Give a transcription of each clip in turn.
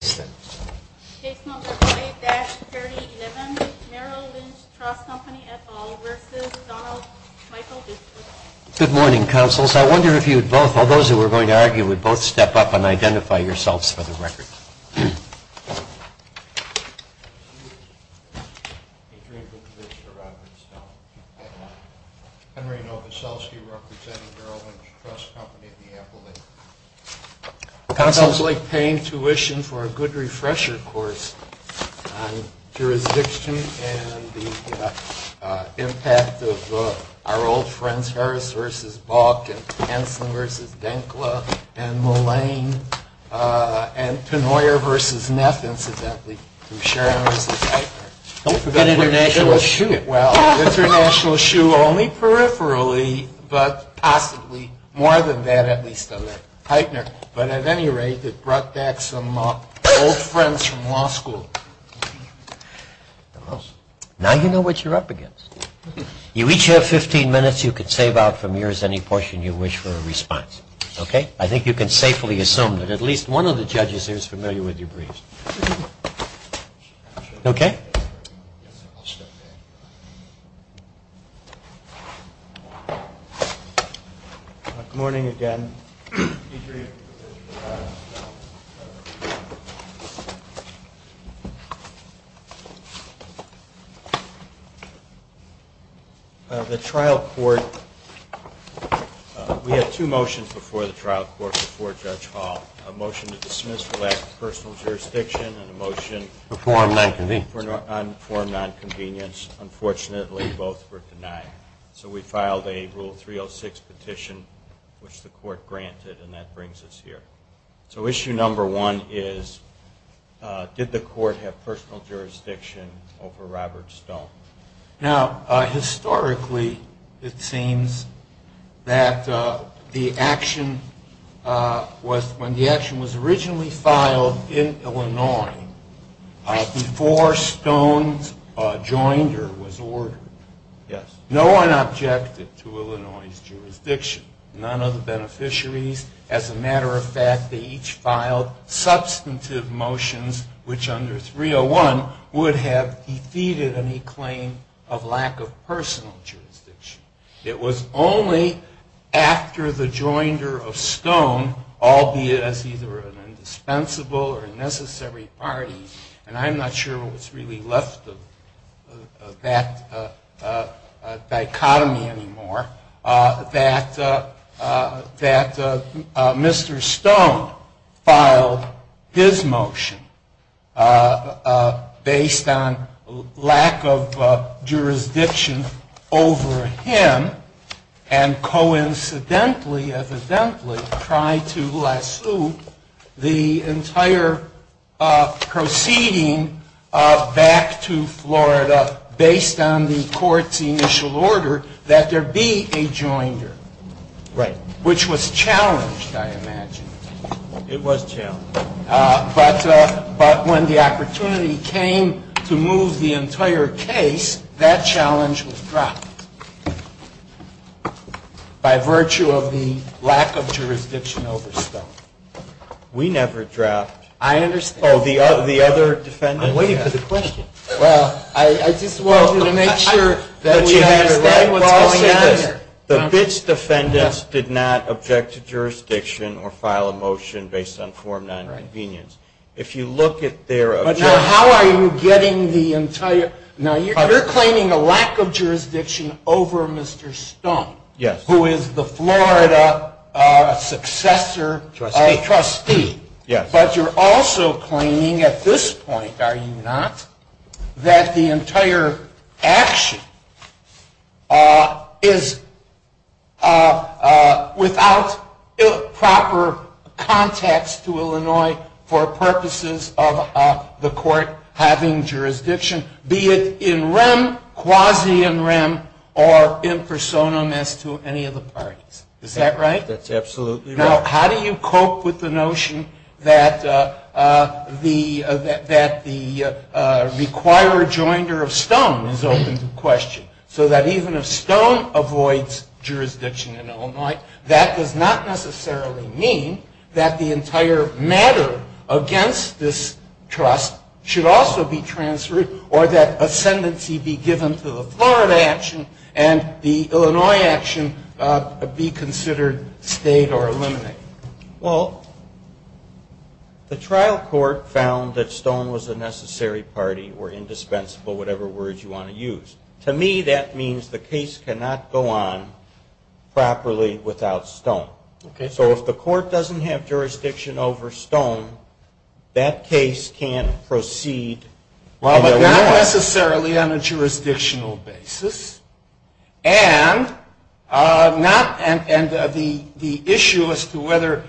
Good morning, councils. I wonder if you'd both, all those who were going to argue, would both step up and identify yourselves for the record. Henry Novoselsky, representing Merrill Lynch Trust Company at the Apple Inc. Councils like paying tuition for a good refresher course on jurisdiction and the impact of our old friends Harris v. Balkin, Hanson v. Denkla, and Mullane, and Tenoyer v. Neff, incidentally, from Sharon v. Piper. Don't forget International Shoe. Well, International Shoe only peripherally, but possibly more than that, at least on their partner. But at any rate, it brought back some old friends from law school. Well, now you know what you're up against. You each have 15 minutes. You can save out from yours any portion you wish for a response, okay? I think you can safely assume that at least one of the judges here is familiar with your briefs. Okay? Good morning again. The trial court, we had two motions before the trial court before Judge Hall. A motion to dismiss for lack of personal jurisdiction and a motion for non-convenience. Unfortunately, both were denied. So we filed a Rule 306 petition, which the court granted, and that brings us here. So issue number one is, did the court have personal jurisdiction over Robert Stone? Now, historically, it seems that the action was, when the action was originally filed in Illinois, before Stone's joinder was ordered, no one objected to Illinois' jurisdiction. None of the beneficiaries. As a matter of fact, they each filed substantive motions, which under 301 would have defeated any claim of lack of personal jurisdiction. It was only after the joinder of Stone, albeit as either an indispensable or a necessary party, and I'm not sure what's really left of that dichotomy anymore, that Mr. Stone filed his motion based on lack of jurisdiction over him and coincidentally, evidently, tried to lasso the entire proceeding back to Florida based on the court's initial order that there be a joinder. Right. Which was challenged, I imagine. It was challenged. But when the opportunity came to move the entire case, that challenge was dropped by virtue of the lack of jurisdiction over Stone. We never dropped. I understand. Oh, the other defendants? I'm waiting for the question. Well, I just wanted to make sure that we understand what's going on here. The BITS defendants did not object to jurisdiction or file a motion based on form non-intervenience. If you look at their objection... But now, how are you getting the entire... Now, you're claiming a lack of jurisdiction over Mr. Stone, who is the Florida successor trustee, but you're also claiming at this point, are you not, that the entire action is without proper context to Illinois for purposes of the court having jurisdiction, be it in rem, quasi in rem, or in personam as to any of the parties. Is that right? That's absolutely right. Now, how do you cope with the notion that the requirer joinder of Stone is open to question? So that even if Stone avoids jurisdiction in Illinois, that does not necessarily mean that the entire matter against this trust should also be transferred or that ascendancy be given to the Florida action and the Illinois action be considered stayed or eliminated. Well, the trial court found that Stone was a necessary party or indispensable, whatever words you want to use. To me, that means the case cannot go on properly without Stone. So if the court doesn't have jurisdiction over Stone, that case can't proceed in Illinois. Not necessarily on a jurisdictional basis. And the issue as to whether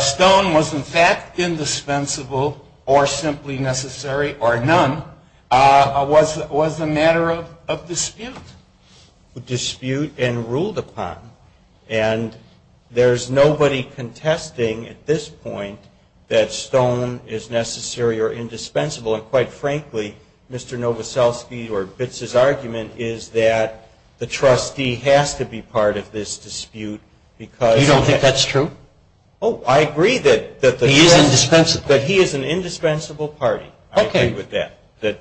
Stone was in fact indispensable or simply necessary or none was a matter of dispute. Dispute and ruled upon. And there's nobody contesting at this point that Stone is necessary or indispensable. And quite frankly, Mr. Novoselsky or Bitz's argument is that the trustee has to be part of this dispute because You don't think that's true? Oh, I agree that he is an indispensable party. Okay. I agree with that.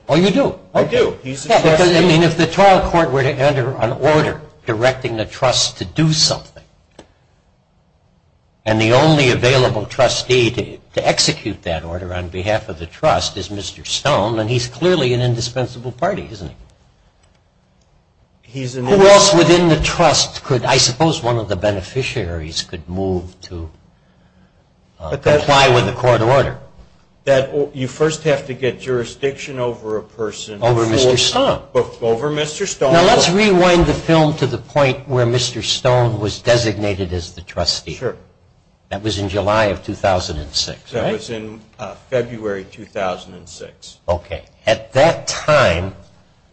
Oh, you do? I do. I mean, if the trial court were to enter an order directing the trust to do something, and the only available trustee to execute that order on behalf of the trust is Mr. Stone, then he's clearly an indispensable party, isn't he? Who else within the trust could, I suppose one of the beneficiaries, could move to comply with the court order? That you first have to get jurisdiction over a person Over Mr. Stone. Over Mr. Stone. Now let's rewind the film to the point where Mr. Stone was designated as the trustee. Sure. That was in July of 2006, right? That was in February 2006. Okay. At that time,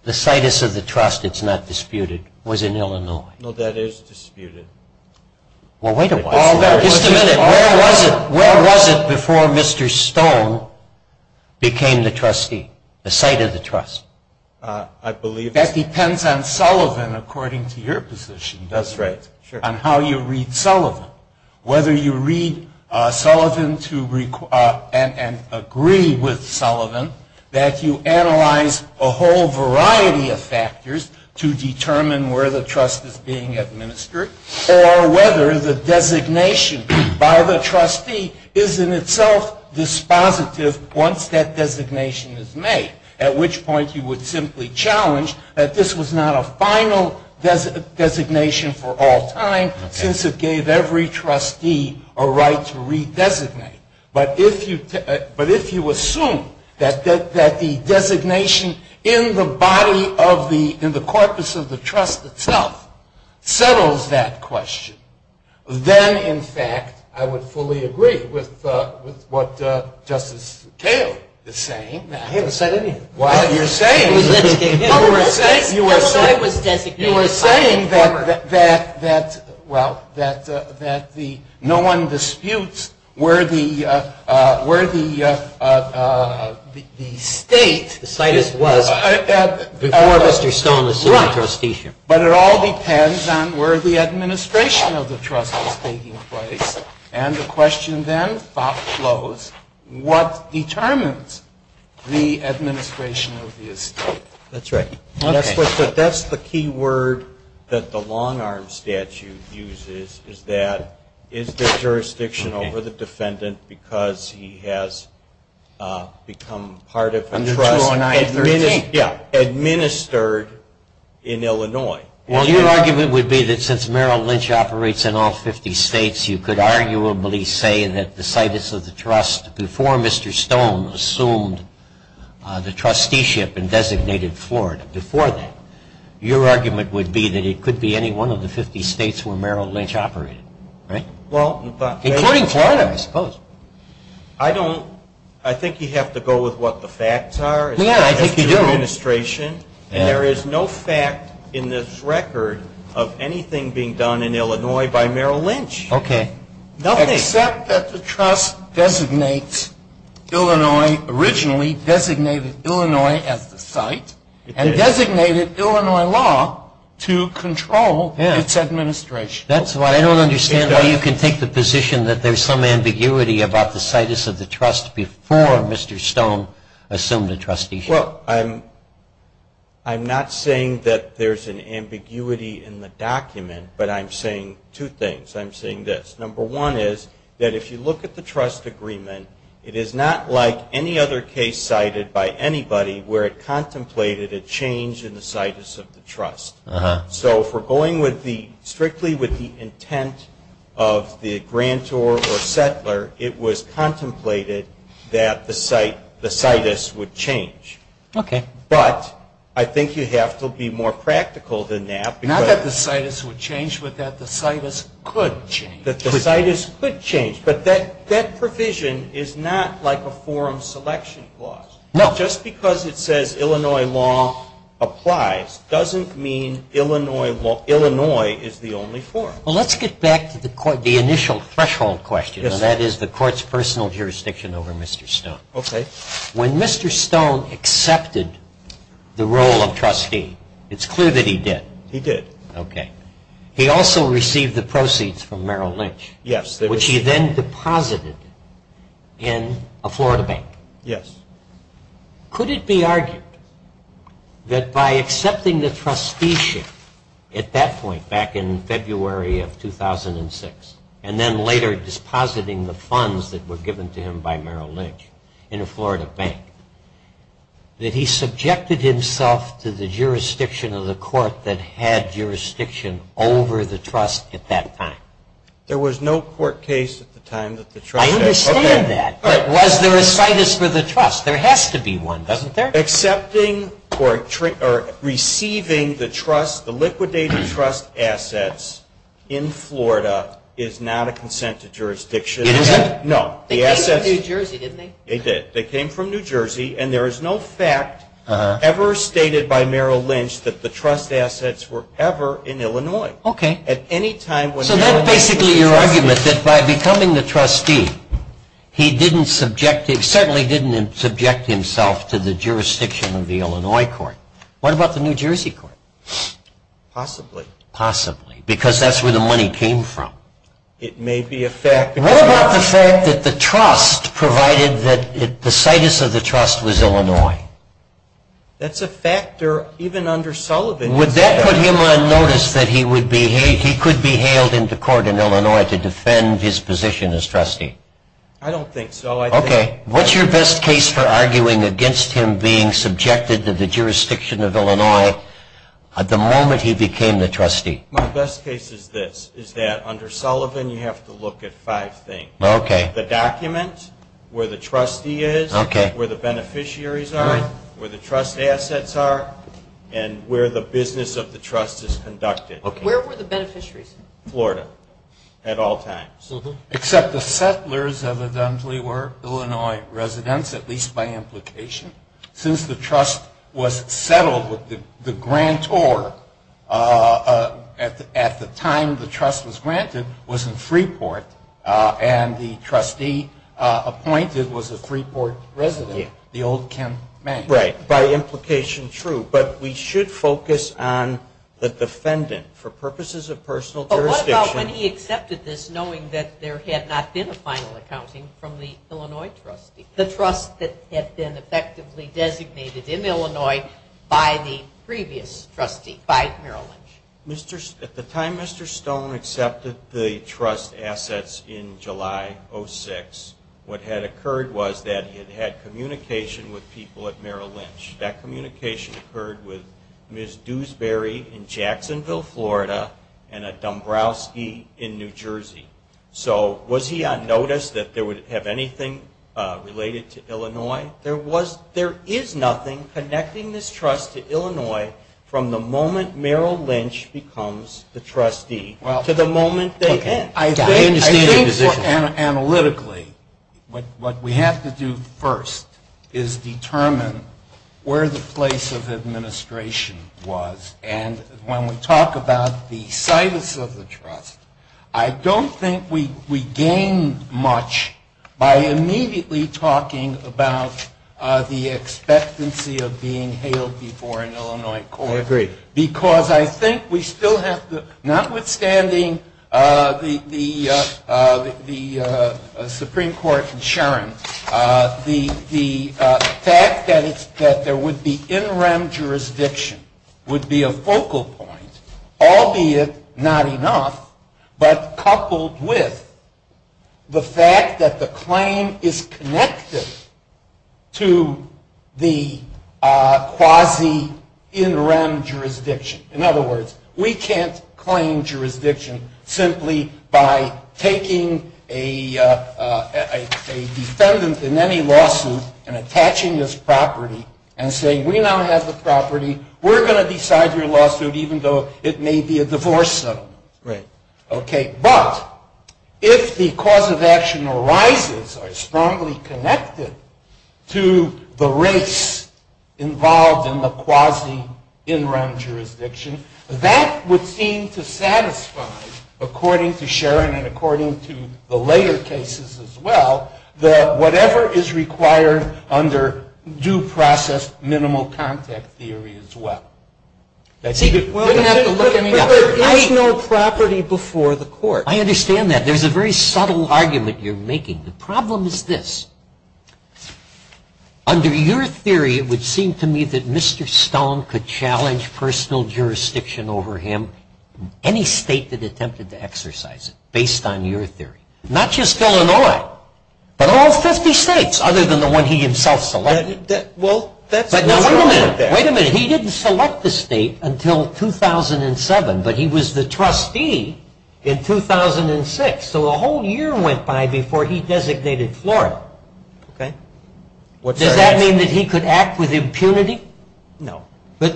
the situs of the trust, it's not disputed, was in Illinois. No, that is disputed. Well, wait a minute. Just a minute. Where was it before Mr. Stone became the trustee? The site of the trust? I believe That depends on Sullivan, according to your position. That's right. On how you read Sullivan. Whether you read Sullivan and agree with Sullivan, that you analyze a whole variety of factors to determine where the trust is being administered, or whether the designation by the trustee is in itself dispositive once that designation is made. At which point you would simply challenge that this was not a final designation for all time, since it gave every trustee a right to redesignate. But if you assume that the designation in the body of the, in the corpus of the trust itself, settles that question, then in fact, I would fully agree with what Justice McHale is saying. I haven't said anything. Well, you're saying that, well, that the, no one disputes where the, where the, the state The site is was before Mr. Stone assumed the trusteeship. But it all depends on where the administration of the trust is taking place. And the question then follows, what determines the administration of the estate? That's right. That's the key word that the long arm statute uses, is that, is the jurisdiction over the defendant, because he has become part of the trust. Under 209-13. Yeah. Administered in Illinois. Well, your argument would be that since Merrill Lynch operates in all 50 states, you could arguably say that the situs of the trust before Mr. Stone assumed the trusteeship and designated Florida. Before that, your argument would be that it could be any one of the 50 states where Merrill Lynch operated. Right? Including Florida, I suppose. I don't, I think you have to go with what the facts are. Yeah, I think you do. And there is no fact in this record of anything being done in Illinois by Merrill Lynch. Okay. Nothing. Except that the trust designates Illinois originally, designated Illinois as the site, and designated Illinois law to control its administration. That's what, I don't understand how you can take the position that there's some ambiguity about the situs of the trust before Mr. Stone assumed the trusteeship. Well, I'm, I'm not saying that there's an ambiguity in the document, but I'm saying two things. I'm saying this. Number one is that if you look at the trust agreement, it is not like any other case cited by anybody where it contemplated a change in the situs of the trust. Uh-huh. So if we're going with the, strictly with the intent of the grantor or settler, it was contemplated that the site, the situs would change. Okay. But I think you have to be more practical than that. Not that the situs would change, but that the situs could change. The situs could change, but that, that provision is not like a forum selection clause. No. Just because it says Illinois law applies, doesn't mean Illinois law, Illinois is the only forum. Well, let's get back to the court, the initial threshold question, and that is the court's personal jurisdiction over Mr. Stone. Okay. When Mr. Stone accepted the role of trustee, it's clear that he did. He did. Okay. He also received the proceeds from Merrill Lynch. Yes. Which he then deposited in a Florida bank. Yes. Could it be argued that by accepting the trusteeship at that point, back in February of 2006, and then later depositing the funds that were given to him by Merrill Lynch in a Florida bank, that he subjected himself to the jurisdiction of the court that had jurisdiction over the trust at that time? There was no court case at the time that the trust had... I understand that. But was there a situs for the trust? There has to be one, doesn't there? Accepting or receiving the trust, the liquidated trust assets in Florida is not a consent to jurisdiction. It isn't? No. They came from New Jersey, didn't they? They did. They came from New Jersey, and there is no fact ever stated by Merrill Lynch that the trust assets were ever in Illinois. Okay. At any time... So that's basically your argument, that by becoming the trustee, he certainly didn't subject himself to the jurisdiction of the Illinois court. What about the New Jersey court? Possibly. Possibly. Because that's where the money came from. It may be a fact... What about the fact that the trust provided that the situs of the trust was Illinois? That's a factor even under Sullivan. Would that put him on notice that he could be hailed into court in Illinois to defend his position as trustee? I don't think so. Okay. What's your best case for arguing against him being subjected to the jurisdiction of Illinois at the moment he became the trustee? My best case is this, is that under Sullivan, you have to look at five things. The document, where the trustee is, where the beneficiaries are, where the trust assets are, and where the business of the trust is conducted. Where were the beneficiaries? Florida, at all times. Except the settlers evidently were Illinois residents, at least by implication, since the trust was settled with the grantor at the time the trust was granted was in Freeport and the trustee appointed was a Freeport resident, the old Ken Mang. Right, by implication true, but we should focus on the defendant for purposes of personal jurisdiction. But what about when he accepted this knowing that there had not been a final accounting from the Illinois trustee, the trust that had been effectively designated in Illinois by the previous trustee, by Merrill Lynch? At the time Mr. Stone accepted the trust assets in July of 2006, what had occurred was that he had had communication with people at Merrill Lynch. That communication occurred with Ms. Dewsbury in Jacksonville, Florida, and a Dombrowski in New Jersey. So was he on notice that they would have anything related to Illinois? There is nothing connecting this trust to Illinois from the moment Merrill Lynch becomes the trustee to the moment they end. I understand your position. More analytically, what we have to do first is determine where the place of administration was, and when we talk about the situs of the trust, I don't think we gain much by immediately talking about the expectancy of being hailed before an Illinois court. I agree. Because I think we still have to, notwithstanding the Supreme Court and Sharon, the fact that there would be in-rem jurisdiction would be a focal point, albeit not enough, but coupled with the fact that the claim is connected to the quasi-in-rem jurisdiction. In other words, we can't claim jurisdiction simply by taking a defendant in any lawsuit and attaching his property and saying we now have the property, we're going to decide your lawsuit even though it may be a divorce settlement. Right. Okay. But if the cause of action arises or is strongly connected to the race involved in the quasi-in-rem jurisdiction, that would seem to satisfy, according to Sharon and according to the later cases as well, that whatever is required under due process minimal contact theory as well. See, we don't have to look any other way. But there is no property before the court. I understand that. There's a very subtle argument you're making. The problem is this. Under your theory, it would seem to me that Mr. Stone could challenge personal jurisdiction over him in any state that attempted to exercise it based on your theory. Not just Illinois, but all 50 states other than the one he himself selected. Well, that's what's wrong with that. Wait a minute. He didn't select the state until 2007, but he was the trustee in 2006. So a whole year went by before he designated Florida. Okay. Does that mean that he could act with impunity? No. But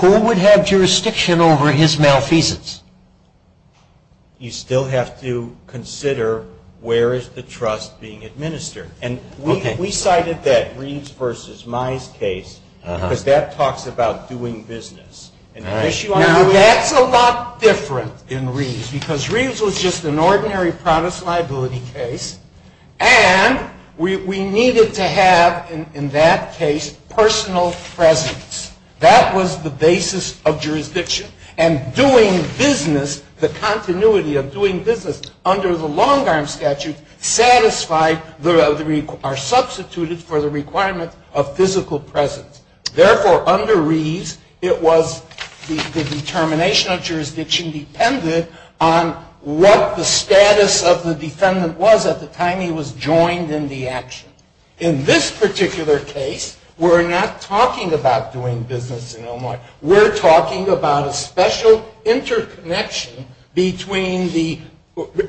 who would have jurisdiction over his malfeasance? You still have to consider where is the trust being administered. And we cited that Reeves versus Mize case, because that talks about doing business. Now, that's a lot different in Reeves, because Reeves was just an ordinary Protestant liability case. And we needed to have, in that case, personal presence. That was the basis of jurisdiction. And doing business, the continuity of doing business under the long-arm statute, are substituted for the requirement of physical presence. Therefore, under Reeves, the determination of jurisdiction depended on what the status of the defendant was at the time he was joined in the action. In this particular case, we're not talking about doing business in Illinois. We're talking about a special interconnection between the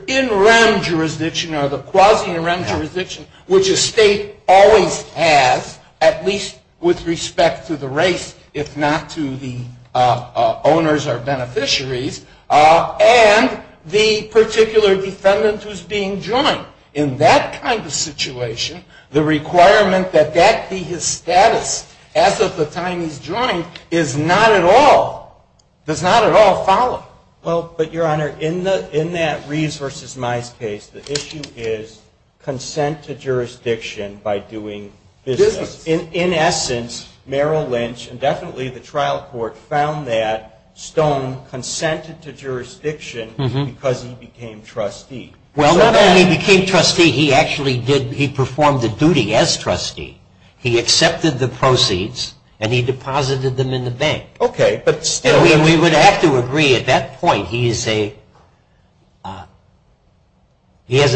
in-rem jurisdiction or the quasi-in-rem jurisdiction, which a state always has, at least with respect to the race, if not to the owners or beneficiaries, and the particular defendant who's being joined. In that kind of situation, the requirement that that be his status as of the time he's joined is not at all, does not at all follow. Well, but Your Honor, in that Reeves versus Mize case, the issue is consent to jurisdiction by doing business. In essence, Merrill Lynch, and definitely the trial court, found that Stone consented to jurisdiction because he became trustee. Well, when he became trustee, he actually did, he performed the duty as trustee. He accepted the proceeds, and he deposited them in the bank. Okay. And we would have to agree at that point, he has a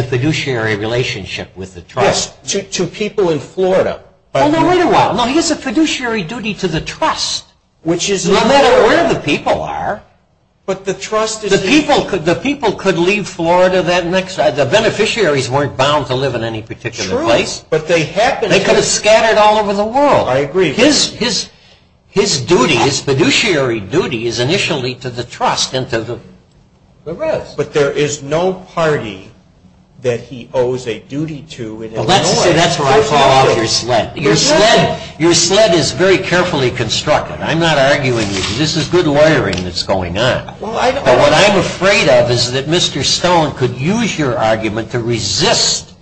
fiduciary relationship with the trust. Yes, to people in Florida. Oh, no, wait a while. No, he has a fiduciary duty to the trust, no matter where the people are. But the trust is... The people could leave Florida that next... The beneficiaries weren't bound to live in any particular place. True, but they happen to... They could have scattered all over the world. I agree. His duty, his fiduciary duty is initially to the trust and to the rest. But there is no party that he owes a duty to in Illinois. Well, that's where I fall off your sled. Your sled is very carefully constructed. I'm not arguing with you. This is good lawyering that's going on. What I'm afraid of is that Mr. Stone could use your argument to resist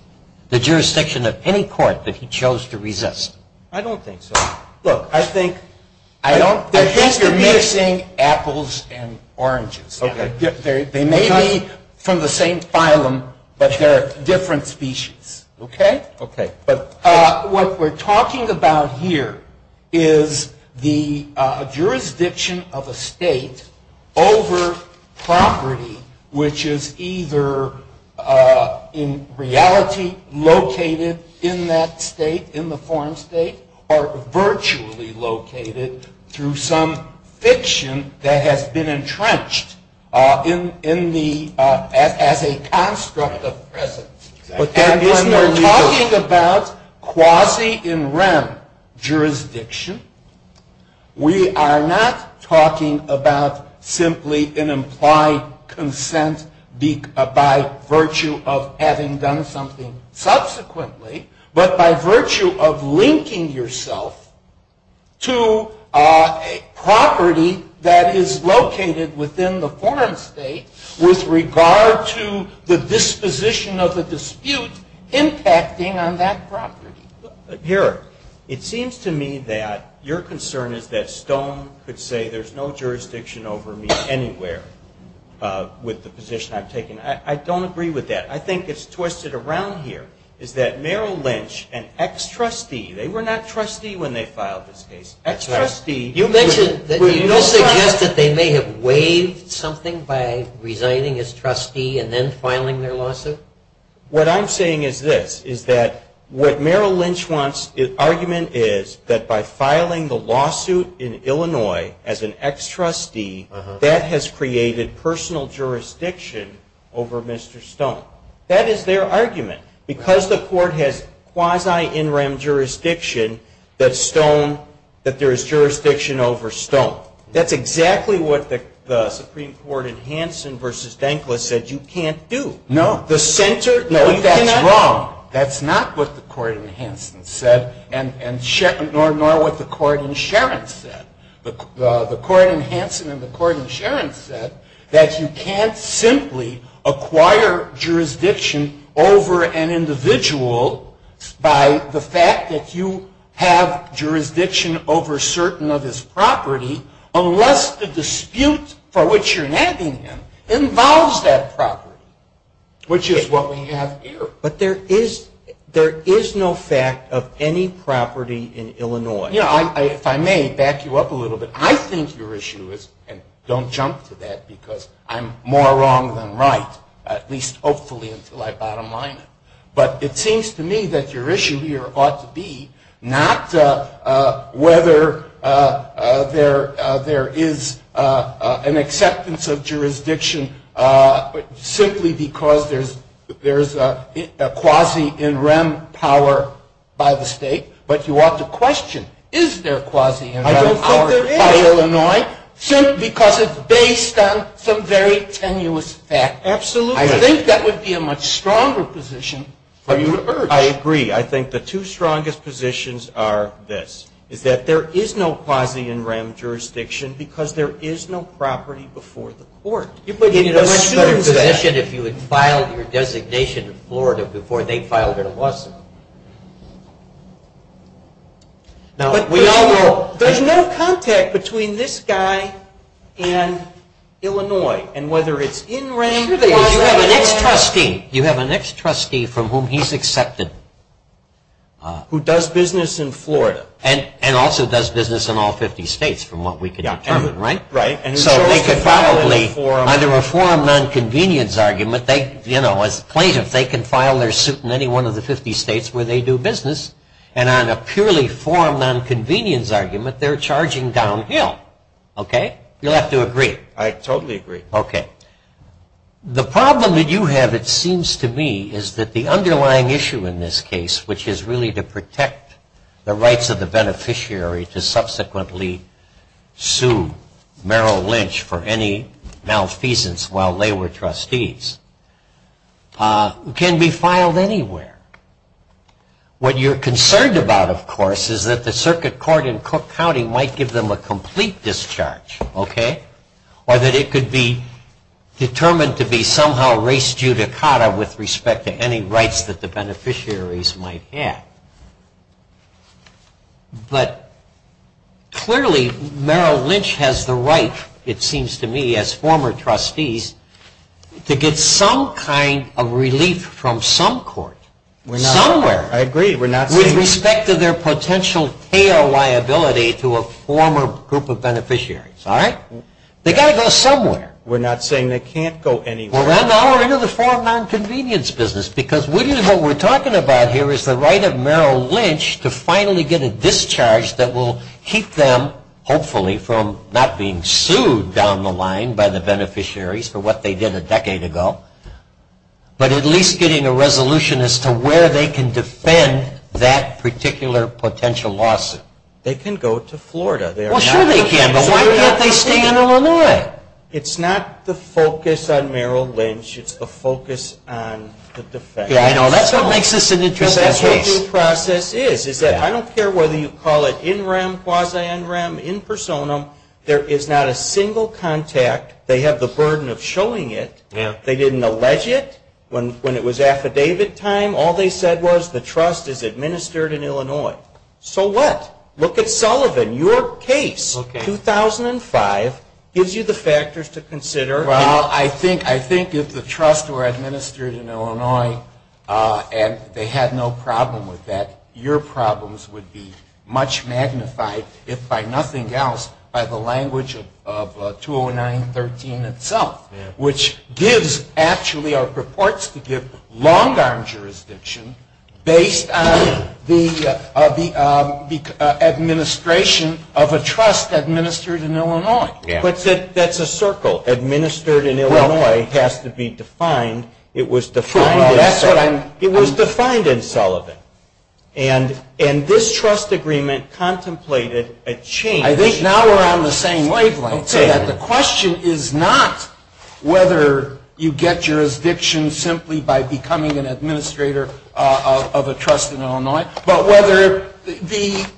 the jurisdiction of any court that he chose to resist. I don't think so. Look, I think... I don't... I think you're mixing apples and oranges. Okay. They may be from the same phylum, but they're different species. Okay? Okay. But what we're talking about here is the over-property, which is either in reality located in that state, in the foreign state, or virtually located through some fiction that has been entrenched in the... as a construct of presence. And when we're talking about quasi-in-rem jurisdiction, we are not talking about simply an implied consent by virtue of having done something subsequently, but by virtue of linking yourself to a property that is located within the foreign state with regard to the disposition of the dispute impacting on that property. Here, it seems to me that your concern is that Stone could say there's no jurisdiction over me anywhere with the position I've taken. I don't agree with that. I think it's twisted around here, is that Merrill Lynch, an ex-trustee, they were not trustee when they filed this case. Ex-trustee... You mentioned that you suggest that they may have waived something by resigning as trustee and then filing their lawsuit? What I'm saying is this, is that what Merrill Lynch wants, the argument is, that by filing the lawsuit in Illinois as an ex-trustee, that has created personal jurisdiction over Mr. Stone. That is their argument. Because the court has quasi-in-rem jurisdiction, that Stone... that there is jurisdiction over Stone. That's exactly what the Supreme Court in Hansen versus Dankla said you can't do. No. The center... No, that's wrong. That's not what the court in Hansen said, nor what the court in Sharon said. The court in Hansen and the court in Sharon said that you can't simply acquire jurisdiction over an individual by the fact that you have jurisdiction over certain of his property unless the dispute for which you're nagging him involves that property, which is what we have here. But there is no fact of any property in Illinois. You know, if I may back you up a little bit, I think your issue is, and don't jump to that because I'm more wrong than right, at least hopefully until I bottom-line it. But it seems to me that your issue here ought to be whether there is an acceptance of jurisdiction simply because there's a quasi-in-rem power by the state. But you ought to question, is there quasi-in-rem power by Illinois simply because it's based on some very tenuous fact. Absolutely. I think that would be a much stronger position for you to urge. I agree. I think the two strongest positions are this, is that there is no quasi-in-rem jurisdiction because there is no property before the court. It would be a much better position if you had filed your designation in Florida before they filed their lawsuit. Now, we all know there's no contact between this guy and Illinois. And whether it's in-rem, quasi-in-rem. You have an ex-trustee. Ex-trustee from whom he's accepted. Who does business in Florida. And also does business in all 50 states from what we can determine. Right? Right. So they could probably, under a forum non-convenience argument, as plaintiffs, they can file their suit in any one of the 50 states where they do business. And on a purely forum non-convenience argument, they're charging downhill. Okay? You'll have to agree. I totally agree. Okay. The problem that you have, it seems to me, is that the underlying issue in this case, which is really to protect the rights of the beneficiary to subsequently sue Merrill Lynch for any malfeasance while they were trustees, can be filed anywhere. What you're concerned about, of course, is that the circuit court in Cook County might give them a complete discharge. Okay? Or that it could be determined to be somehow race judicata with respect to any rights that the beneficiaries might have. But clearly Merrill Lynch has the right, it seems to me, as former trustees, to get some kind of relief from some court. Somewhere. I agree. of beneficiaries. All right? They've got to go somewhere. We're not saying they can't go anywhere. Well, no. We're in the forum non-convenience business because what we're talking about here is the right of Merrill Lynch to finally get a discharge that will keep them, hopefully, from not being sued down the line by the beneficiaries for what they did a decade ago, but at least getting a resolution as to where they can defend that particular potential lawsuit. They can go to Florida. Well, sure they can. But why can't they stay in Illinois? It's not the focus on Merrill Lynch. It's the focus on the defense. Yeah, I know. That's what makes this an interesting case. That's what the process is. I don't care whether you call it in rem, quasi-in rem, in personam. There is not a single contact. They have the burden of showing it. They didn't allege it when it was affidavit time. All they said was the trust is administered in Illinois. So what? Look at Sullivan. Your case, 2005, gives you the factors to consider. Well, I think if the trust were administered in Illinois and they had no problem with that, your problems would be much magnified, if by nothing else, by the language of 209-13 itself, which gives actually or purports to give long-arm jurisdiction based on the administration of a trust administered in Illinois. But that's a circle. Administered in Illinois has to be defined. It was defined in Sullivan. And this trust agreement contemplated a change. I think now we're on the same wavelength. I'd say that the question is not whether you get jurisdiction simply by becoming an administrator of a trust in Illinois, but whether the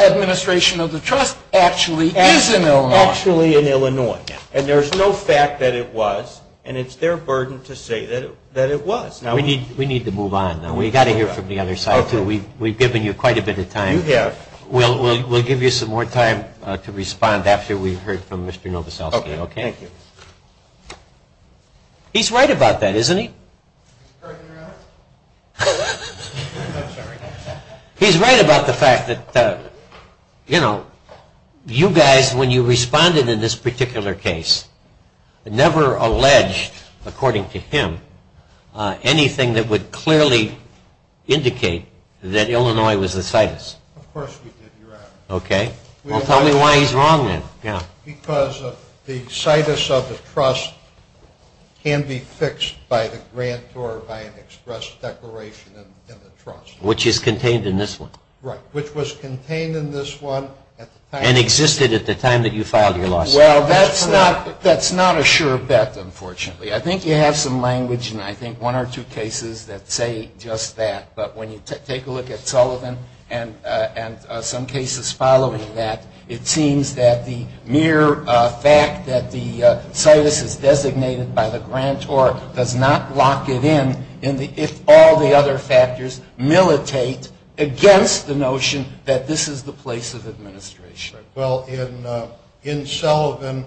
administration of the trust actually is in Illinois. Actually in Illinois. And there's no fact that it was, and it's their burden to say that it was. We need to move on, though. We've got to hear from the other side, too. We've given you quite a bit of time. We'll give you some more time to respond after we've heard from Mr. Novoselsky. Okay, thank you. He's right about that, isn't he? He's right about the fact that you guys, when you responded in this particular case, never alleged, according to him, anything that would clearly indicate that Illinois was the situs. Of course we did, Your Honor. Okay. Well, tell me why he's wrong then. Because the situs of the trust can be fixed by the grant or by an express declaration in the trust. Which is contained in this one. Right, which was contained in this one at the time. And existed at the time that you filed your lawsuit. Well, that's not a sure bet, unfortunately. I think you have some language in, I think, one or two cases that say just that. But when you take a look at Sullivan and some cases following that, it seems that the mere fact that the situs is designated by the grant or does not lock it in if all the other factors militate against the notion that this is the place of administration. Well, in Sullivan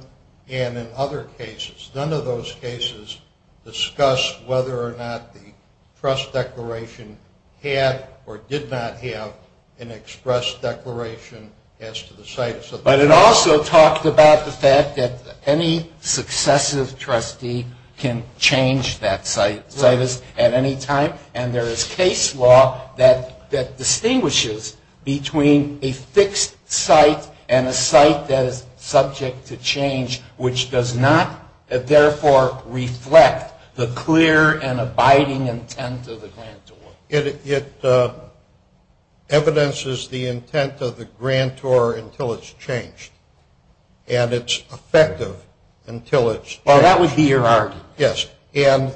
and in other cases, none of those cases discuss whether or not the trust declaration had or did not have an express declaration as to the situs of the trust. But it also talked about the fact that any successive trustee can change that situs at any time. And there is case law that distinguishes between a fixed site and a site that is subject to change, which does not therefore reflect the clear and abiding intent of the grantor. It evidences the intent of the grantor until it's changed. And it's effective until it's changed. Well, that would be your argument. Yes. And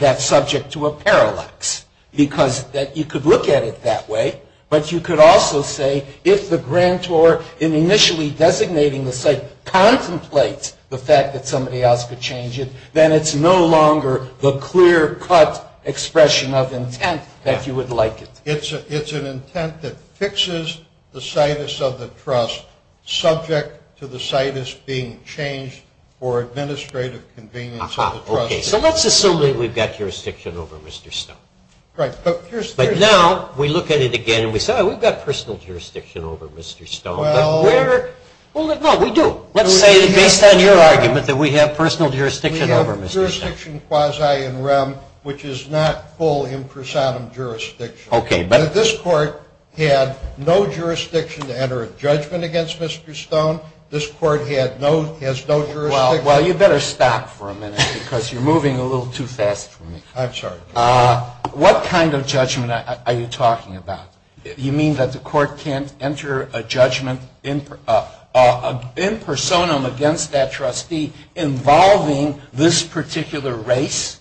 that's subject to a parallax because you could look at it that way, but you could also say if the grantor in initially designating the site contemplates the fact that somebody else could change it, then it's no longer the clear-cut expression of intent that you would like it. It's an intent that fixes the situs of the trust subject to the situs being changed for administrative convenience of the trustee. Aha. Okay. So let's assume that we've got jurisdiction over Mr. Stone. Right. But here's the thing. But now we look at it again and we say, oh, we've got personal jurisdiction over Mr. Stone. Well. Well, no, we do. Let's say that based on your argument that we have personal jurisdiction over Mr. Stone. We have jurisdiction quasi in rem, which is not full impressatum jurisdiction. Okay. But if this court had no jurisdiction to enter a judgment against Mr. Stone, this court has no jurisdiction. Well, you better stop for a minute because you're moving a little too fast for me. I'm sorry. What kind of judgment are you talking about? You mean that the court can't enter a judgment in personam against that trustee involving this particular race?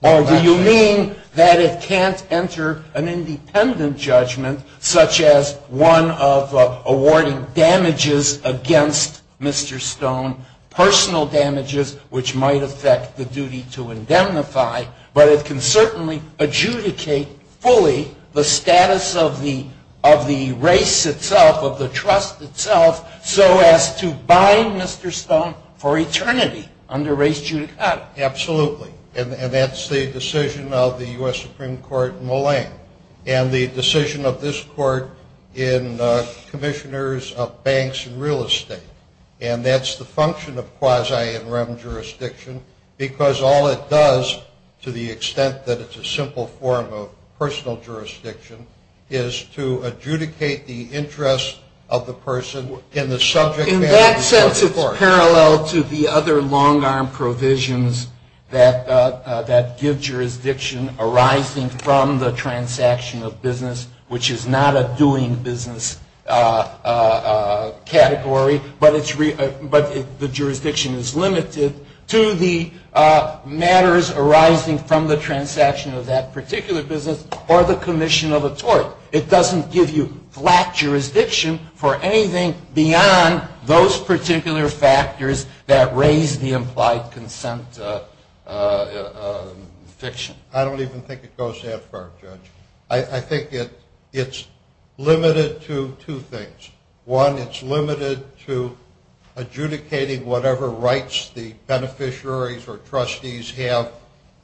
Or do you mean that it can't enter an independent judgment, such as one of awarding damages against Mr. Stone, personal damages which might affect the duty to indemnify, but it can certainly adjudicate fully the status of the race itself, of the trust itself, so as to bind Mr. Stone for eternity under race judicata? Absolutely. And that's the decision of the U.S. Supreme Court in Molang. And the decision of this court in commissioners of banks and real estate. And that's the function of quasi in rem jurisdiction because all it does, to the extent that it's a simple form of personal jurisdiction, is to adjudicate the interest of the person in the subject matter before the court. In that sense, it's parallel to the other long-arm provisions that give jurisdiction arising from the transaction of business, which is not a doing business category, but the jurisdiction is limited to the matters arising from the transaction of that particular business or the commission of a tort. It doesn't give you flat jurisdiction for anything beyond those particular factors that raise the implied consent fiction. I don't even think it goes that far, Judge. I think it's limited to two things. One, it's limited to adjudicating whatever rights the beneficiaries or trustees have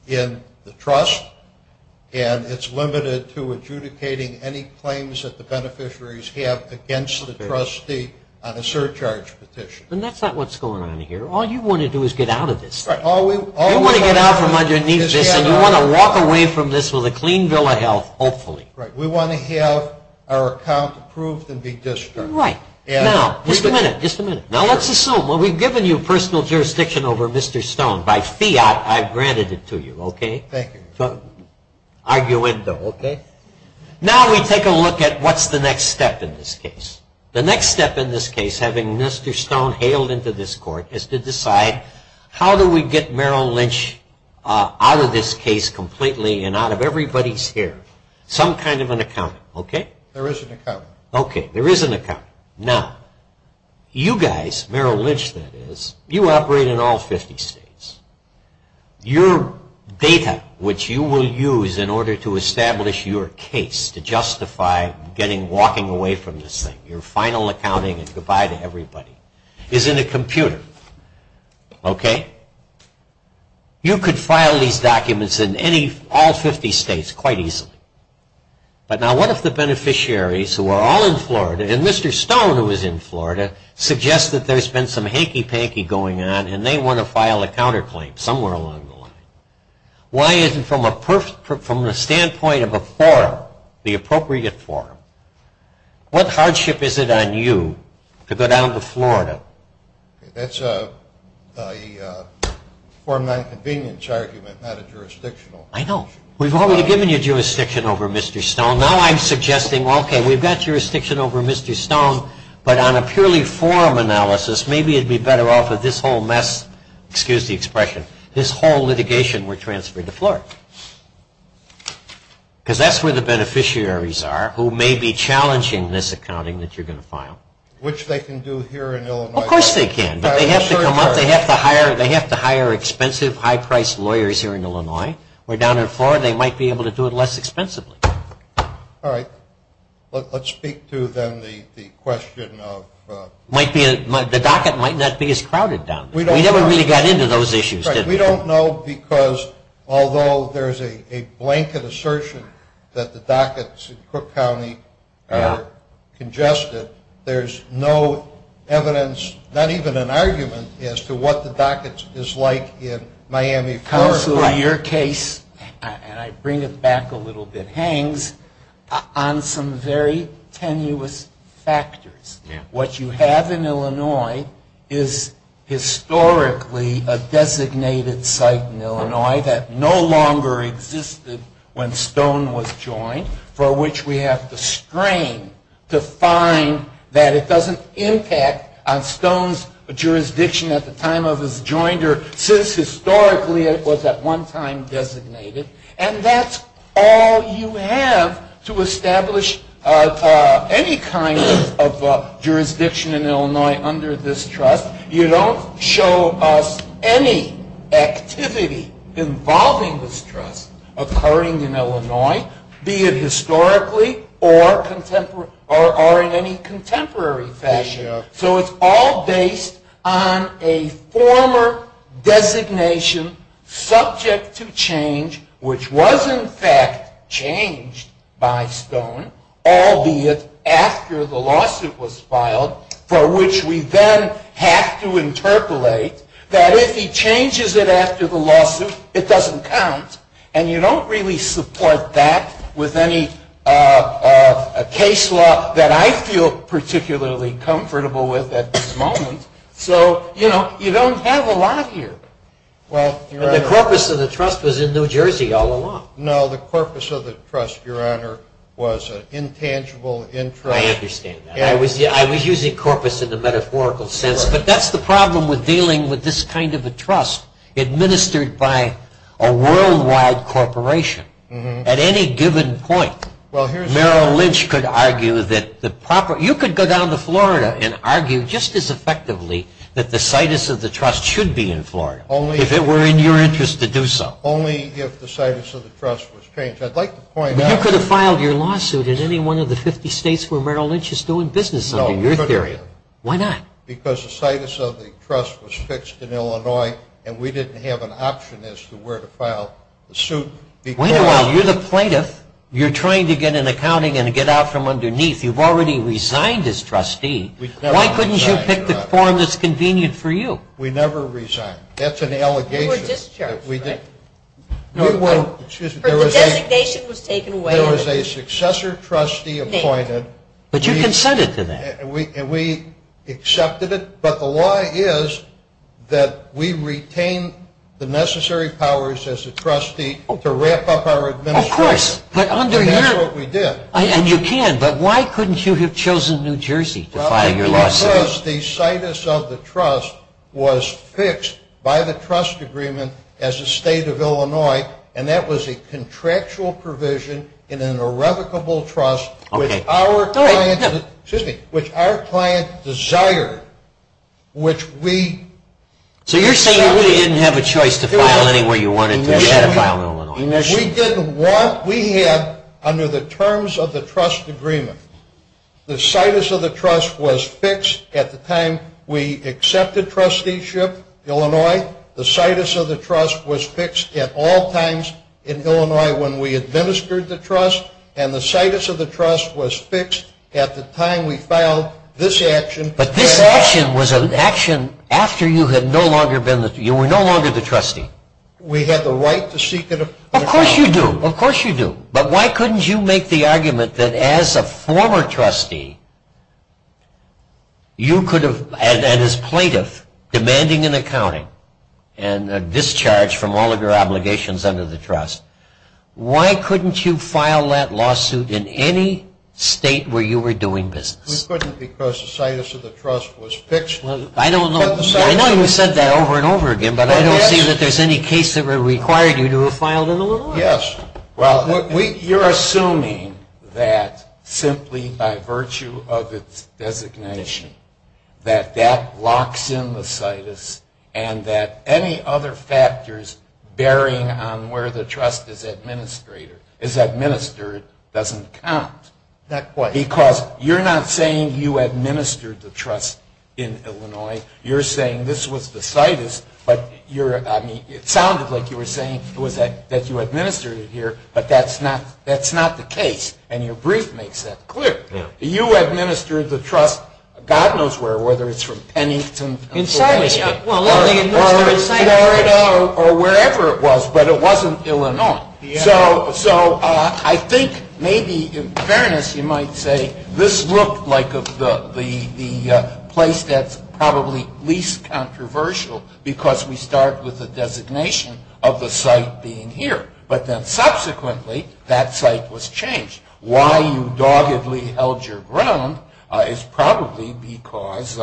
in the trust, and it's limited to adjudicating any claims that the beneficiaries have against the trustee on a surcharge petition. And that's not what's going on here. All you want to do is get out of this thing. You want to get out from underneath this, and you want to walk away from this with a clean bill of health, hopefully. We want to have our account approved and be discharged. Right. Now, just a minute, just a minute. Now let's assume, well, we've given you personal jurisdiction over Mr. Stone. By fiat, I've granted it to you. Okay? Thank you. Arguendo. Okay. Now we take a look at what's the next step in this case. The next step in this case, having Mr. Stone hailed into this court, is to decide how do we get Merrill Lynch out of this case completely and out of everybody's hair? Some kind of an accountant, okay? There is an accountant. Okay. There is an accountant. Now, you guys, Merrill Lynch, that is, you operate in all 50 states. Your data, which you will use in order to establish your case to justify walking away from this thing, your final accounting and goodbye to everybody, is in a computer. Okay? You could file these documents in all 50 states quite easily. But now what if the beneficiaries, who are all in Florida, and Mr. Stone, who is in Florida, suggests that there's been some hanky-panky going on and they want to file a counterclaim somewhere along the line? Why isn't from the standpoint of a forum, the appropriate forum, what hardship is it on you to go down to Florida? That's a forum nonconvenience argument, not a jurisdictional one. I know. We've already given you jurisdiction over Mr. Stone. Now I'm suggesting, okay, we've got jurisdiction over Mr. Stone, but on a purely forum analysis, maybe it would be better off if this whole mess, excuse the expression, this whole litigation were transferred to Florida. Because that's where the beneficiaries are, who may be challenging this accounting that you're going to file. Which they can do here in Illinois. Of course they can, but they have to come up, they have to hire expensive, high-priced lawyers here in Illinois, where down in Florida they might be able to do it less expensively. All right. Let's speak to then the question of... The docket might not be as crowded down there. We never really got into those issues, did we? We don't know because although there's a blanket assertion that the dockets in Crook County are congested, there's no evidence, not even an argument, as to what the docket is like in Miami, Florida. Counselor, your case, and I bring it back a little bit, hangs on some very tenuous factors. What you have in Illinois is historically a designated site in Illinois that no longer existed when Stone was joined, for which we have to strain to find that it doesn't impact on Stone's jurisdiction at the time of his joinder, since historically it was at one time designated. And that's all you have to establish any kind of jurisdiction in Illinois under this trust. You don't show us any activity involving this trust occurring in Illinois, be it historically or in any contemporary fashion. So it's all based on a former designation subject to change, which was in fact changed by Stone, all be it after the lawsuit was filed, for which we then have to interpolate that if he changes it after the lawsuit, it doesn't count. And you don't really support that with any case law that I feel particularly comfortable with at this moment. So, you know, you don't have a lot here. And the corpus of the trust was in New Jersey all along. No, the corpus of the trust, Your Honor, was an intangible interest. I understand that. I was using corpus in the metaphorical sense, but that's the problem with dealing with this kind of a trust administered by a worldwide corporation. At any given point, Merrill Lynch could argue that the proper – you could go down to Florida and argue just as effectively that the situs of the trust should be in Florida if it were in your interest to do so. Only if the situs of the trust was changed. I'd like to point out – But you could have filed your lawsuit in any one of the 50 states where Merrill Lynch is doing business under your theory. No, we couldn't have. Why not? Because the situs of the trust was fixed in Illinois, and we didn't have an option as to where to file the suit. Wait a while. You're the plaintiff. You're trying to get an accounting and get out from underneath. You've already resigned as trustee. Why couldn't you pick the form that's convenient for you? We never resigned. That's an allegation. You were just charged, right? The designation was taken away. There was a successor trustee appointed. But you consented to that. And we accepted it. But the law is that we retain the necessary powers as a trustee to wrap up our administration. Of course. And that's what we did. And you can. But why couldn't you have chosen New Jersey to file your lawsuit? Because the situs of the trust was fixed by the trust agreement as a state of Illinois, and that was a contractual provision in an irrevocable trust, which our client desired. So you're saying you didn't have a choice to file anywhere you wanted to. You had to file in Illinois. We had, under the terms of the trust agreement, the situs of the trust was fixed at the time we accepted trusteeship, Illinois. The situs of the trust was fixed at all times in Illinois when we administered the trust. And the situs of the trust was fixed at the time we filed this action. But this action was an action after you were no longer the trustee. We had the right to seek an appointment. Of course you do. Of course you do. But why couldn't you make the argument that as a former trustee, you could have, and as a plaintiff, demanding an accounting and a discharge from all of your obligations under the trust, why couldn't you file that lawsuit in any state where you were doing business? We couldn't because the situs of the trust was fixed. I know you've said that over and over again, but I don't see that there's any case that required you to have filed in Illinois. Yes. Well, you're assuming that simply by virtue of its designation that that locks in the situs and that any other factors bearing on where the trust is administered doesn't count. Not quite. Because you're not saying you administered the trust in Illinois. You're saying this was the situs, but it sounded like you were saying that you administered it here, but that's not the case, and your brief makes that clear. You administered the trust God knows where, whether it's from Pennington. Inside Michigan. Or Florida or wherever it was, but it wasn't Illinois. So I think maybe in fairness you might say this looked like the place that's probably least controversial because we start with the designation of the site being here, but then subsequently that site was changed. Why you doggedly held your ground is probably because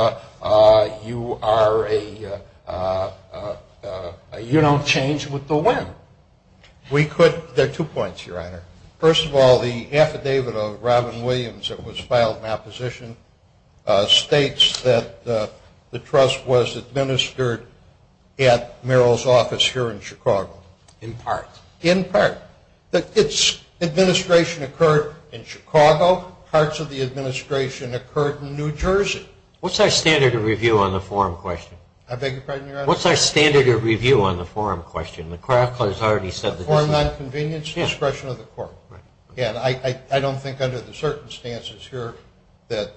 you are a, you don't change with the wind. We could, there are two points, Your Honor. First of all, the affidavit of Robin Williams that was filed in opposition states that the trust was administered at Merrill's office here in Chicago. In part. In part. Its administration occurred in Chicago. Parts of the administration occurred in New Jersey. What's our standard of review on the forum question? I beg your pardon, Your Honor? What's our standard of review on the forum question? McCracken has already said this. Forum nonconvenience, discretion of the court. Right. And I don't think under the circumstances here that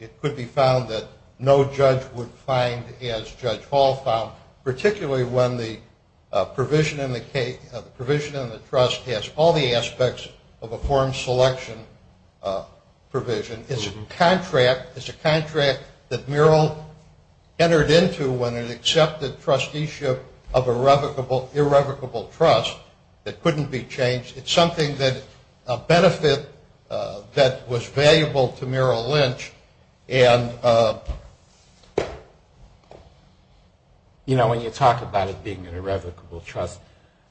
it could be found that no judge would find, as Judge Hall found, particularly when the provision in the trust has all the aspects of a forum selection provision. It's a contract that Merrill entered into when it accepted trusteeship of irrevocable trust that couldn't be changed. It's something that, a benefit that was valuable to Merrill Lynch. And, you know, when you talk about it being an irrevocable trust,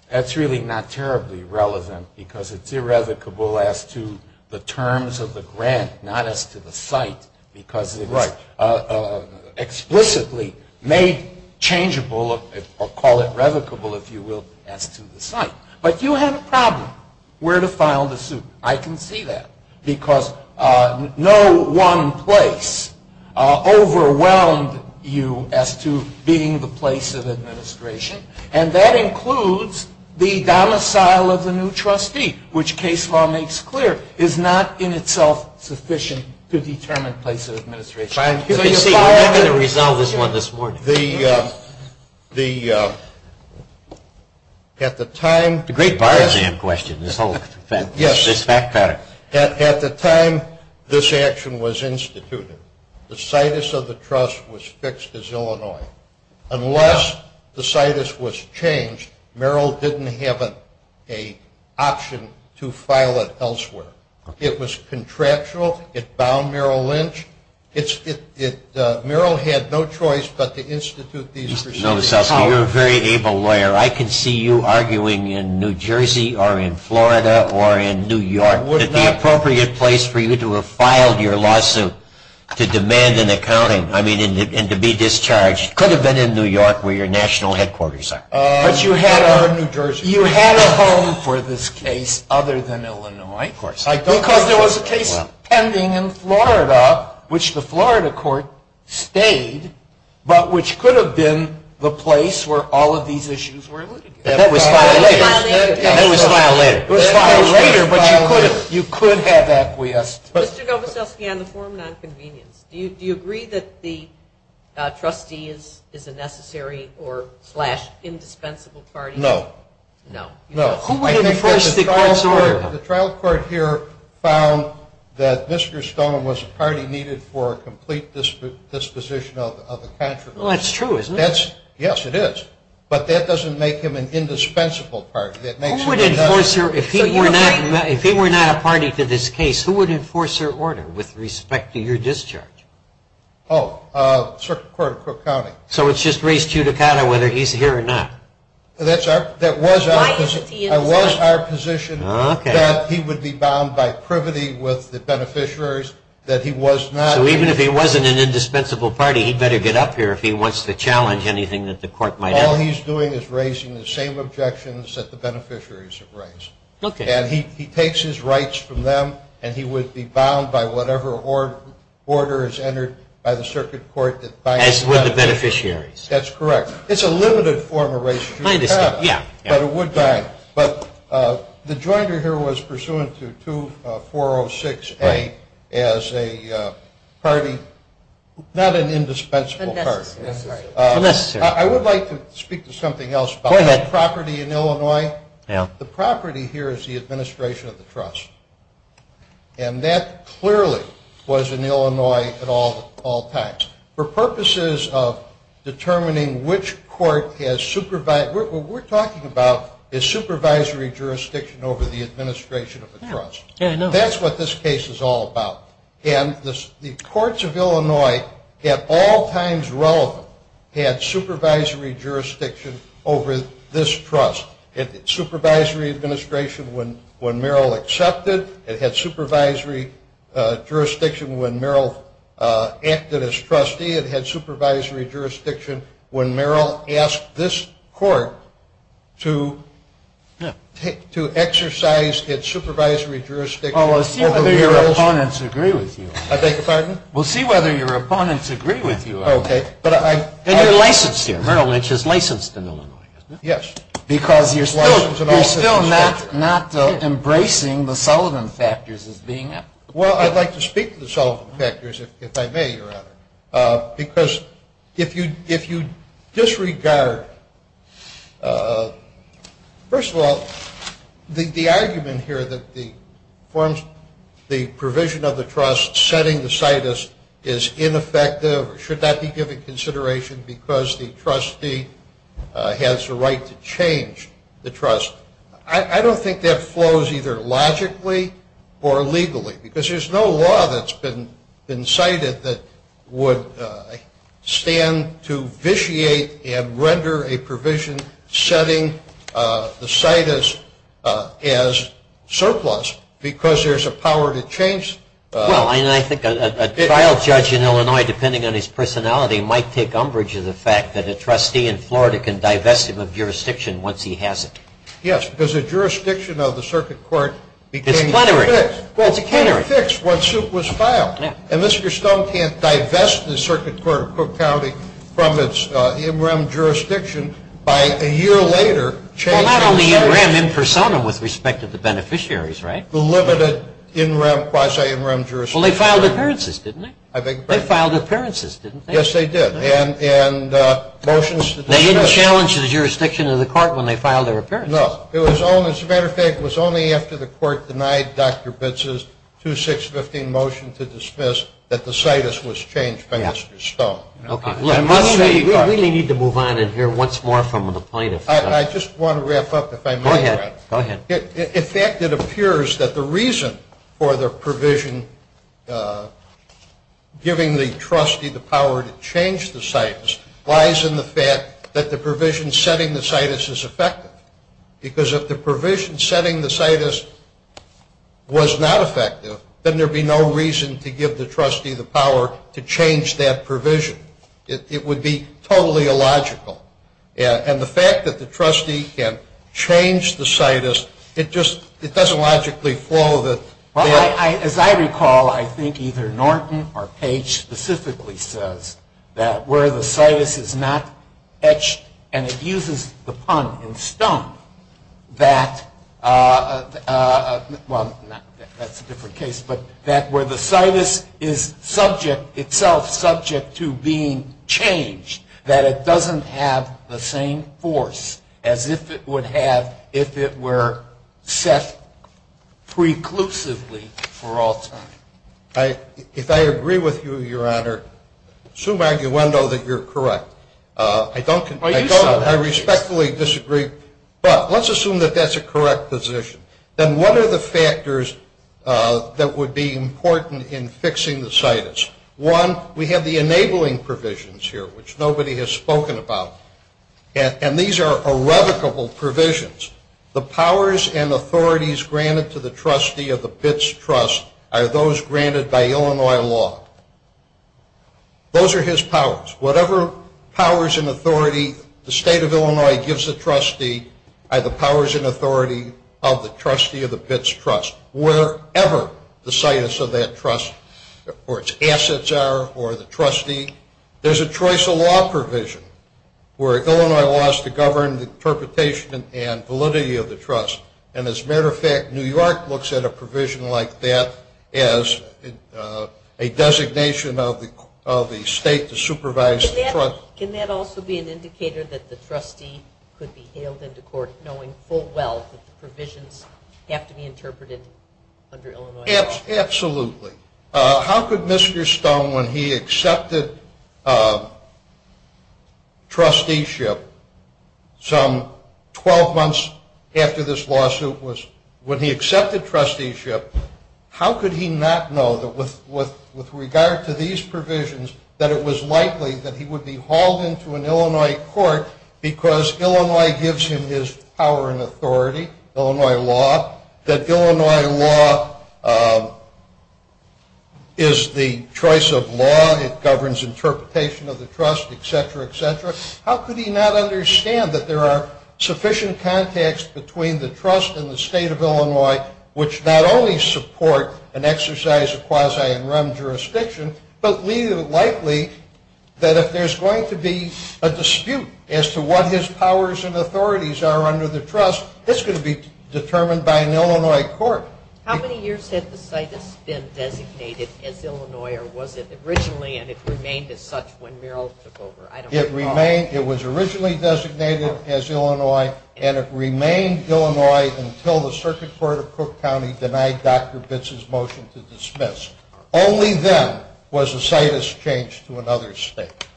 that's really not terribly relevant, because it's irrevocable as to the terms of the grant, not as to the site, because it's explicitly made changeable, or call it revocable, if you will, as to the site. But you have a problem. Where to file the suit. I can see that. Because no one place overwhelmed you as to being the place of administration, and that includes the domicile of the new trustee, which case law makes clear is not in itself sufficient to determine place of administration. Let me see. I'm going to resolve this one this morning. The, at the time. Great bar exam question, this whole fact pattern. At the time this action was instituted, the situs of the trust was fixed as Illinois. Unless the situs was changed, Merrill didn't have an option to file it elsewhere. It was contractual. It bound Merrill Lynch. Merrill had no choice but to institute these proceedings. Justice Novoselsky, you're a very able lawyer. I can see you arguing in New Jersey or in Florida or in New York, that the appropriate place for you to have filed your lawsuit to demand an accounting, I mean, and to be discharged could have been in New York where your national headquarters are. But you had our New Jersey. You had a home for this case other than Illinois. Because there was a case pending in Florida, which the Florida court stayed, but which could have been the place where all of these issues were alluded to. That was filed later. That was filed later. It was filed later, but you could have acquiesced. Mr. Novoselsky, on the forum and on convenience, do you agree that the trustee is a necessary or indispensable party? No. No. No. Who would enforce the court's order? The trial court here found that Mr. Stone was a party needed for a complete disposition of the contradiction. Well, that's true, isn't it? Yes, it is. But that doesn't make him an indispensable party. Who would enforce your order? If he were not a party to this case, who would enforce your order with respect to your discharge? Oh, the circuit court of Cook County. So it's just raised to you to count on whether he's here or not. That was our position. Okay. That he would be bound by privity with the beneficiaries that he was not. So even if he wasn't an indispensable party, he'd better get up here if he wants to challenge anything that the court might have. All he's doing is raising the same objections that the beneficiaries have raised. Okay. And he takes his rights from them, and he would be bound by whatever order is entered by the circuit court. As would the beneficiaries. That's correct. It's a limited form of race. I understand, yeah. But it would bind. But the jointer here was pursuant to 2406A as a party, not an indispensable party. Unnecessary. Unnecessary. I would like to speak to something else about property in Illinois. Yeah. The property here is the administration of the trust. And that clearly was in Illinois at all times. For purposes of determining which court has supervised, what we're talking about is supervisory jurisdiction over the administration of the trust. Yeah, I know. That's what this case is all about. And the courts of Illinois at all times relevant had supervisory jurisdiction over this trust. It had supervisory administration when Merrill accepted. It had supervisory jurisdiction when Merrill acted as trustee. It had supervisory jurisdiction when Merrill asked this court to exercise its supervisory jurisdiction. We'll see whether your opponents agree with you. I beg your pardon? We'll see whether your opponents agree with you. Okay. And you're licensed here. Merrill Lynch is licensed in Illinois, isn't he? Yes. Because you're still not embracing the Sullivan factors as being. Well, I'd like to speak to the Sullivan factors, if I may, Your Honor. Because if you disregard, first of all, the argument here that the provision of the trust setting the situs is ineffective or should not be given consideration because the trustee has the right to change the trust, I don't think that flows either logically or legally. Because there's no law that's been cited that would stand to vitiate and render a provision setting the situs as surplus because there's a power to change. Well, and I think a trial judge in Illinois, depending on his personality, might take umbrage of the fact that a trustee in Florida can divest him of jurisdiction once he has it. Yes, because the jurisdiction of the circuit court became fixed. It's plenary. Well, it's plenary. Well, it's fixed once it was filed. Yeah. And Mr. Stone can't divest the circuit court of Cook County from its in rem jurisdiction by a year later. Well, not only in rem, in personam with respect to the beneficiaries, right? The limited in rem, quasi in rem jurisdiction. Well, they filed appearances, didn't they? I beg your pardon? They filed appearances, didn't they? Yes, they did. And motions to dismiss. They didn't challenge the jurisdiction of the court when they filed their appearances. No. As a matter of fact, it was only after the court denied Dr. Bitz's 2615 motion to dismiss that the situs was changed by Mr. Stone. Okay. We really need to move on in here once more from the plaintiff. I just want to wrap up if I may. Go ahead. In fact, it appears that the reason for the provision giving the trustee the power to change the situs lies in the fact that the provision setting the situs is effective. Because if the provision setting the situs was not effective, then there would be no reason to give the trustee the power to change that provision. It would be totally illogical. And the fact that the trustee can change the situs, it just doesn't logically follow that. Well, as I recall, I think either Norton or Page specifically says that where the situs is not etched, and it uses the pun in Stone, that, well, that's a different case, but that where the situs is subject itself, subject to being changed, that it doesn't have the same force as if it would have if it were set preclusively for all time. If I agree with you, Your Honor, I assume arguendo that you're correct. I respectfully disagree. But let's assume that that's a correct position. Then what are the factors that would be important in fixing the situs? One, we have the enabling provisions here, which nobody has spoken about. And these are irrevocable provisions. The powers and authorities granted to the trustee of the BITS trust are those granted by Illinois law. Those are his powers. Whatever powers and authority the state of Illinois gives the trustee are the powers and authority of the trustee of the BITS trust. Wherever the situs of that trust, or its assets are, or the trustee, there's a choice of law provision where Illinois laws to govern the interpretation and validity of the trust. And as a matter of fact, New York looks at a provision like that as a designation of the state to supervise the trust. Can that also be an indicator that the trustee could be hailed into court knowing full well that the provisions have to be interpreted under Illinois law? Absolutely. How could Mr. Stone, when he accepted trusteeship some 12 months after this lawsuit was, when he accepted trusteeship, how could he not know that with regard to these provisions that it was likely that he would be hauled into an Illinois court because Illinois gives him his power and authority, Illinois law, that Illinois law is the choice of law. It governs interpretation of the trust, et cetera, et cetera. How could he not understand that there are sufficient contacts between the trust and the state of Illinois, which not only support an exercise of quasi and rem jurisdiction, but leave it likely that if there's going to be a dispute as to what his powers and authorities are under the trust, it's going to be determined by an Illinois court. How many years had the situs been designated as Illinois, or was it originally, and it remained as such when Merrill took over? It was originally designated as Illinois, and it remained Illinois until the Circuit Court of Cook County denied Dr. Bitz's motion to dismiss. Only then was the situs changed to another state.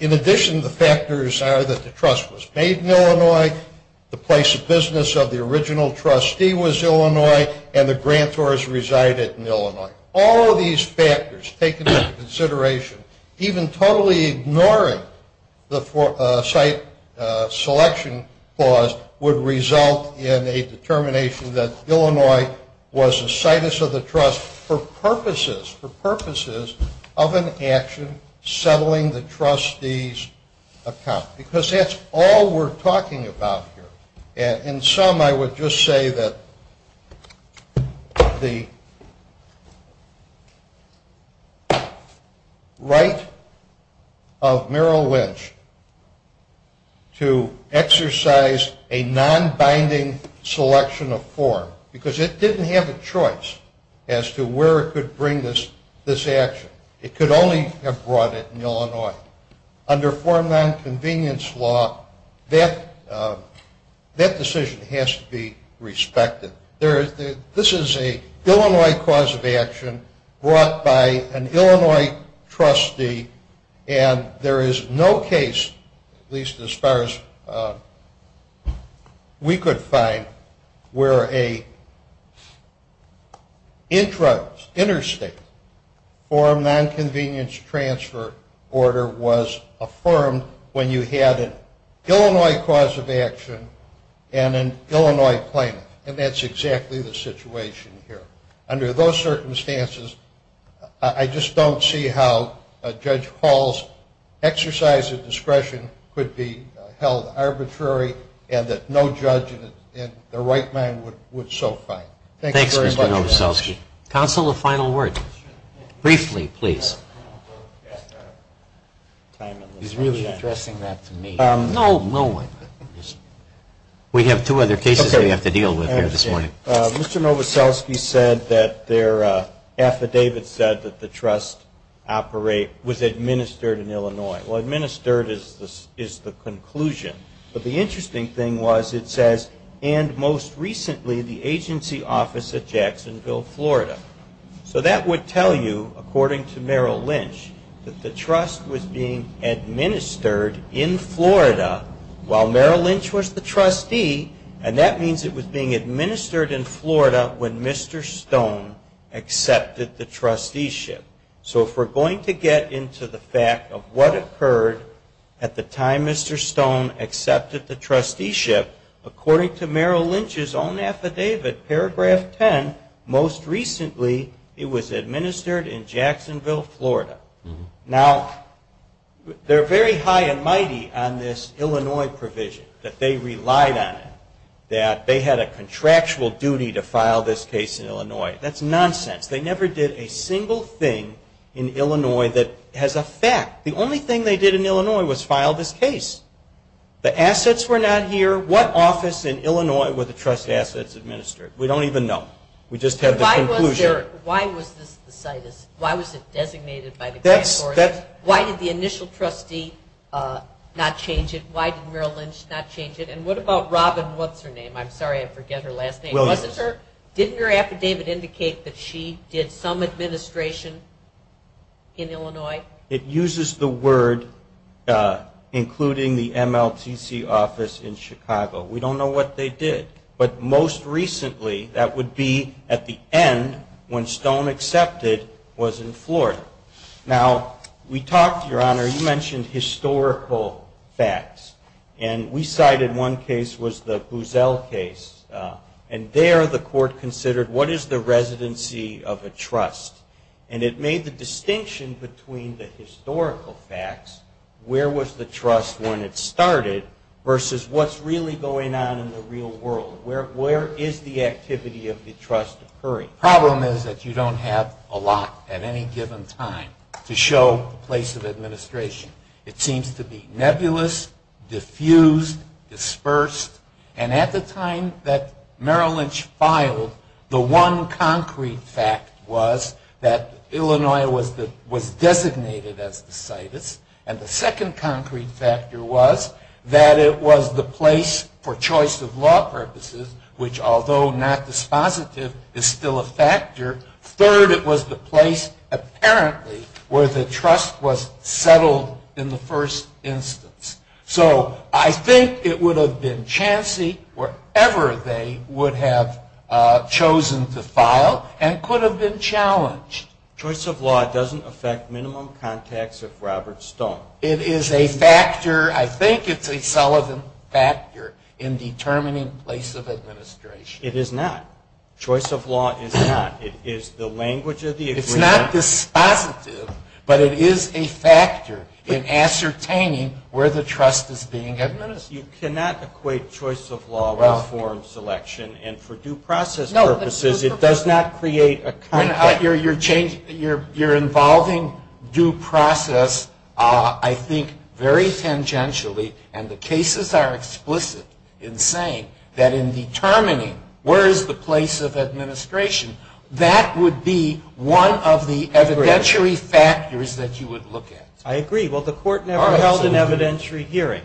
In addition, the factors are that the trust was paid in Illinois, the place of business of the original trustee was Illinois, and the grantors resided in Illinois. All of these factors taken into consideration, even totally ignoring the site selection clause, would result in a determination that Illinois was a situs of the trust for purposes of an action settling the trustee's account. Because that's all we're talking about here. In sum, I would just say that the right of Merrill Lynch to exercise a nonbinding selection of form, because it didn't have a choice as to where it could bring this action. It could only have brought it in Illinois. Under form nonconvenience law, that decision has to be respected. This is an Illinois cause of action brought by an Illinois trustee, And there is no case, at least as far as we could find, where an interstate form nonconvenience transfer order was affirmed when you had an Illinois cause of action and an Illinois plaintiff. And that's exactly the situation here. Under those circumstances, I just don't see how Judge Hall's exercise of discretion could be held arbitrary, and that no judge in their right mind would so find. Thanks very much. Counsel, a final word. Briefly, please. He's really addressing that to me. No, no one. We have two other cases we have to deal with here this morning. Mr. Novoselsky said that their affidavit said that the trust was administered in Illinois. Well, administered is the conclusion. But the interesting thing was it says, and most recently the agency office at Jacksonville, Florida. So that would tell you, according to Merrill Lynch, that the trust was being administered in Florida while Merrill Lynch was the trustee, and that means it was being administered in Florida when Mr. Stone accepted the trusteeship. So if we're going to get into the fact of what occurred at the time Mr. Stone accepted the trusteeship, according to Merrill Lynch's own affidavit, paragraph 10, most recently it was administered in Jacksonville, Florida. Now, they're very high and mighty on this Illinois provision, that they relied on it, that they had a contractual duty to file this case in Illinois. That's nonsense. They never did a single thing in Illinois that has a fact. The only thing they did in Illinois was file this case. The assets were not here. What office in Illinois were the trust assets administered? We don't even know. We just have the conclusion. Why was this the situs? Why was it designated by the grand court? Why did the initial trustee not change it? Why did Merrill Lynch not change it? And what about Robin? What's her name? I'm sorry, I forget her last name. Wasn't her? Didn't her affidavit indicate that she did some administration in Illinois? It uses the word including the MLTC office in Chicago. We don't know what they did. But most recently, that would be at the end, when Stone accepted, was in Florida. Now, we talked, Your Honor, you mentioned historical facts. And we cited one case was the Boozell case. And there the court considered what is the residency of a trust. And it made the distinction between the historical facts, where was the trust when it started, versus what's really going on in the real world. Where is the activity of the trust occurring? The problem is that you don't have a lot at any given time to show the place of administration. It seems to be nebulous, diffused, dispersed. And at the time that Merrill Lynch filed, the one concrete fact was that Illinois was designated as the situs. And the second concrete factor was that it was the place for choice of law purposes, which although not dispositive, is still a factor. Third, it was the place, apparently, where the trust was settled in the first instance. So I think it would have been chancy wherever they would have chosen to file and could have been challenged. Choice of law doesn't affect minimum contacts if Roberts don't. It is a factor, I think it's a solid factor, in determining place of administration. It is not. Choice of law is not. It is the language of the agreement. It's not dispositive, but it is a factor in ascertaining where the trust is being administered. You cannot equate choice of law with forum selection. And for due process purposes, it does not create a contact. You're involving due process, I think, very tangentially. And the cases are explicit in saying that in determining where is the place of administration, that would be one of the evidentiary factors that you would look at. I agree. Well, the court never held an evidentiary hearing.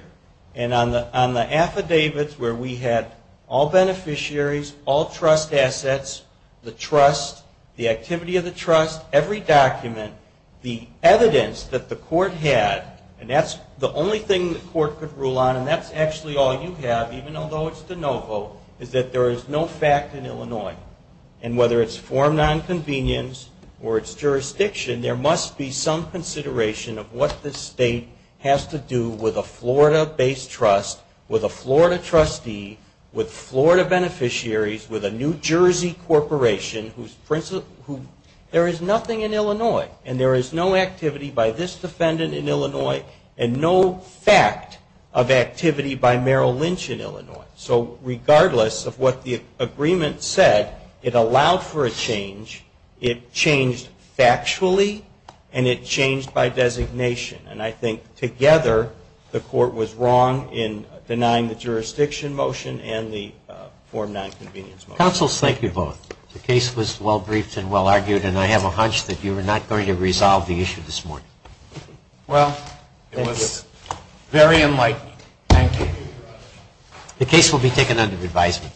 And on the affidavits where we had all beneficiaries, all trust assets, the trust, the activity of the trust, every document, the evidence that the court had, and that's the only thing the court could rule on, and that's actually all you have, even though it's de novo, is that there is no fact in Illinois. And whether it's forum nonconvenience or it's jurisdiction, there must be some consideration of what the state has to do with a Florida-based trust, with a Florida trustee, with Florida beneficiaries, with a New Jersey corporation, who there is nothing in Illinois. And there is no activity by this defendant in Illinois and no fact of activity by Merrill Lynch in Illinois. So regardless of what the agreement said, it allowed for a change, it changed factually, and it changed by designation. And I think together the court was wrong in denying the jurisdiction motion and the forum nonconvenience motion. Counsel, thank you both. The case was well briefed and well argued, and I have a hunch that you were not going to resolve the issue this morning. Well, it was very enlightening. Thank you. The case will be taken under advisement.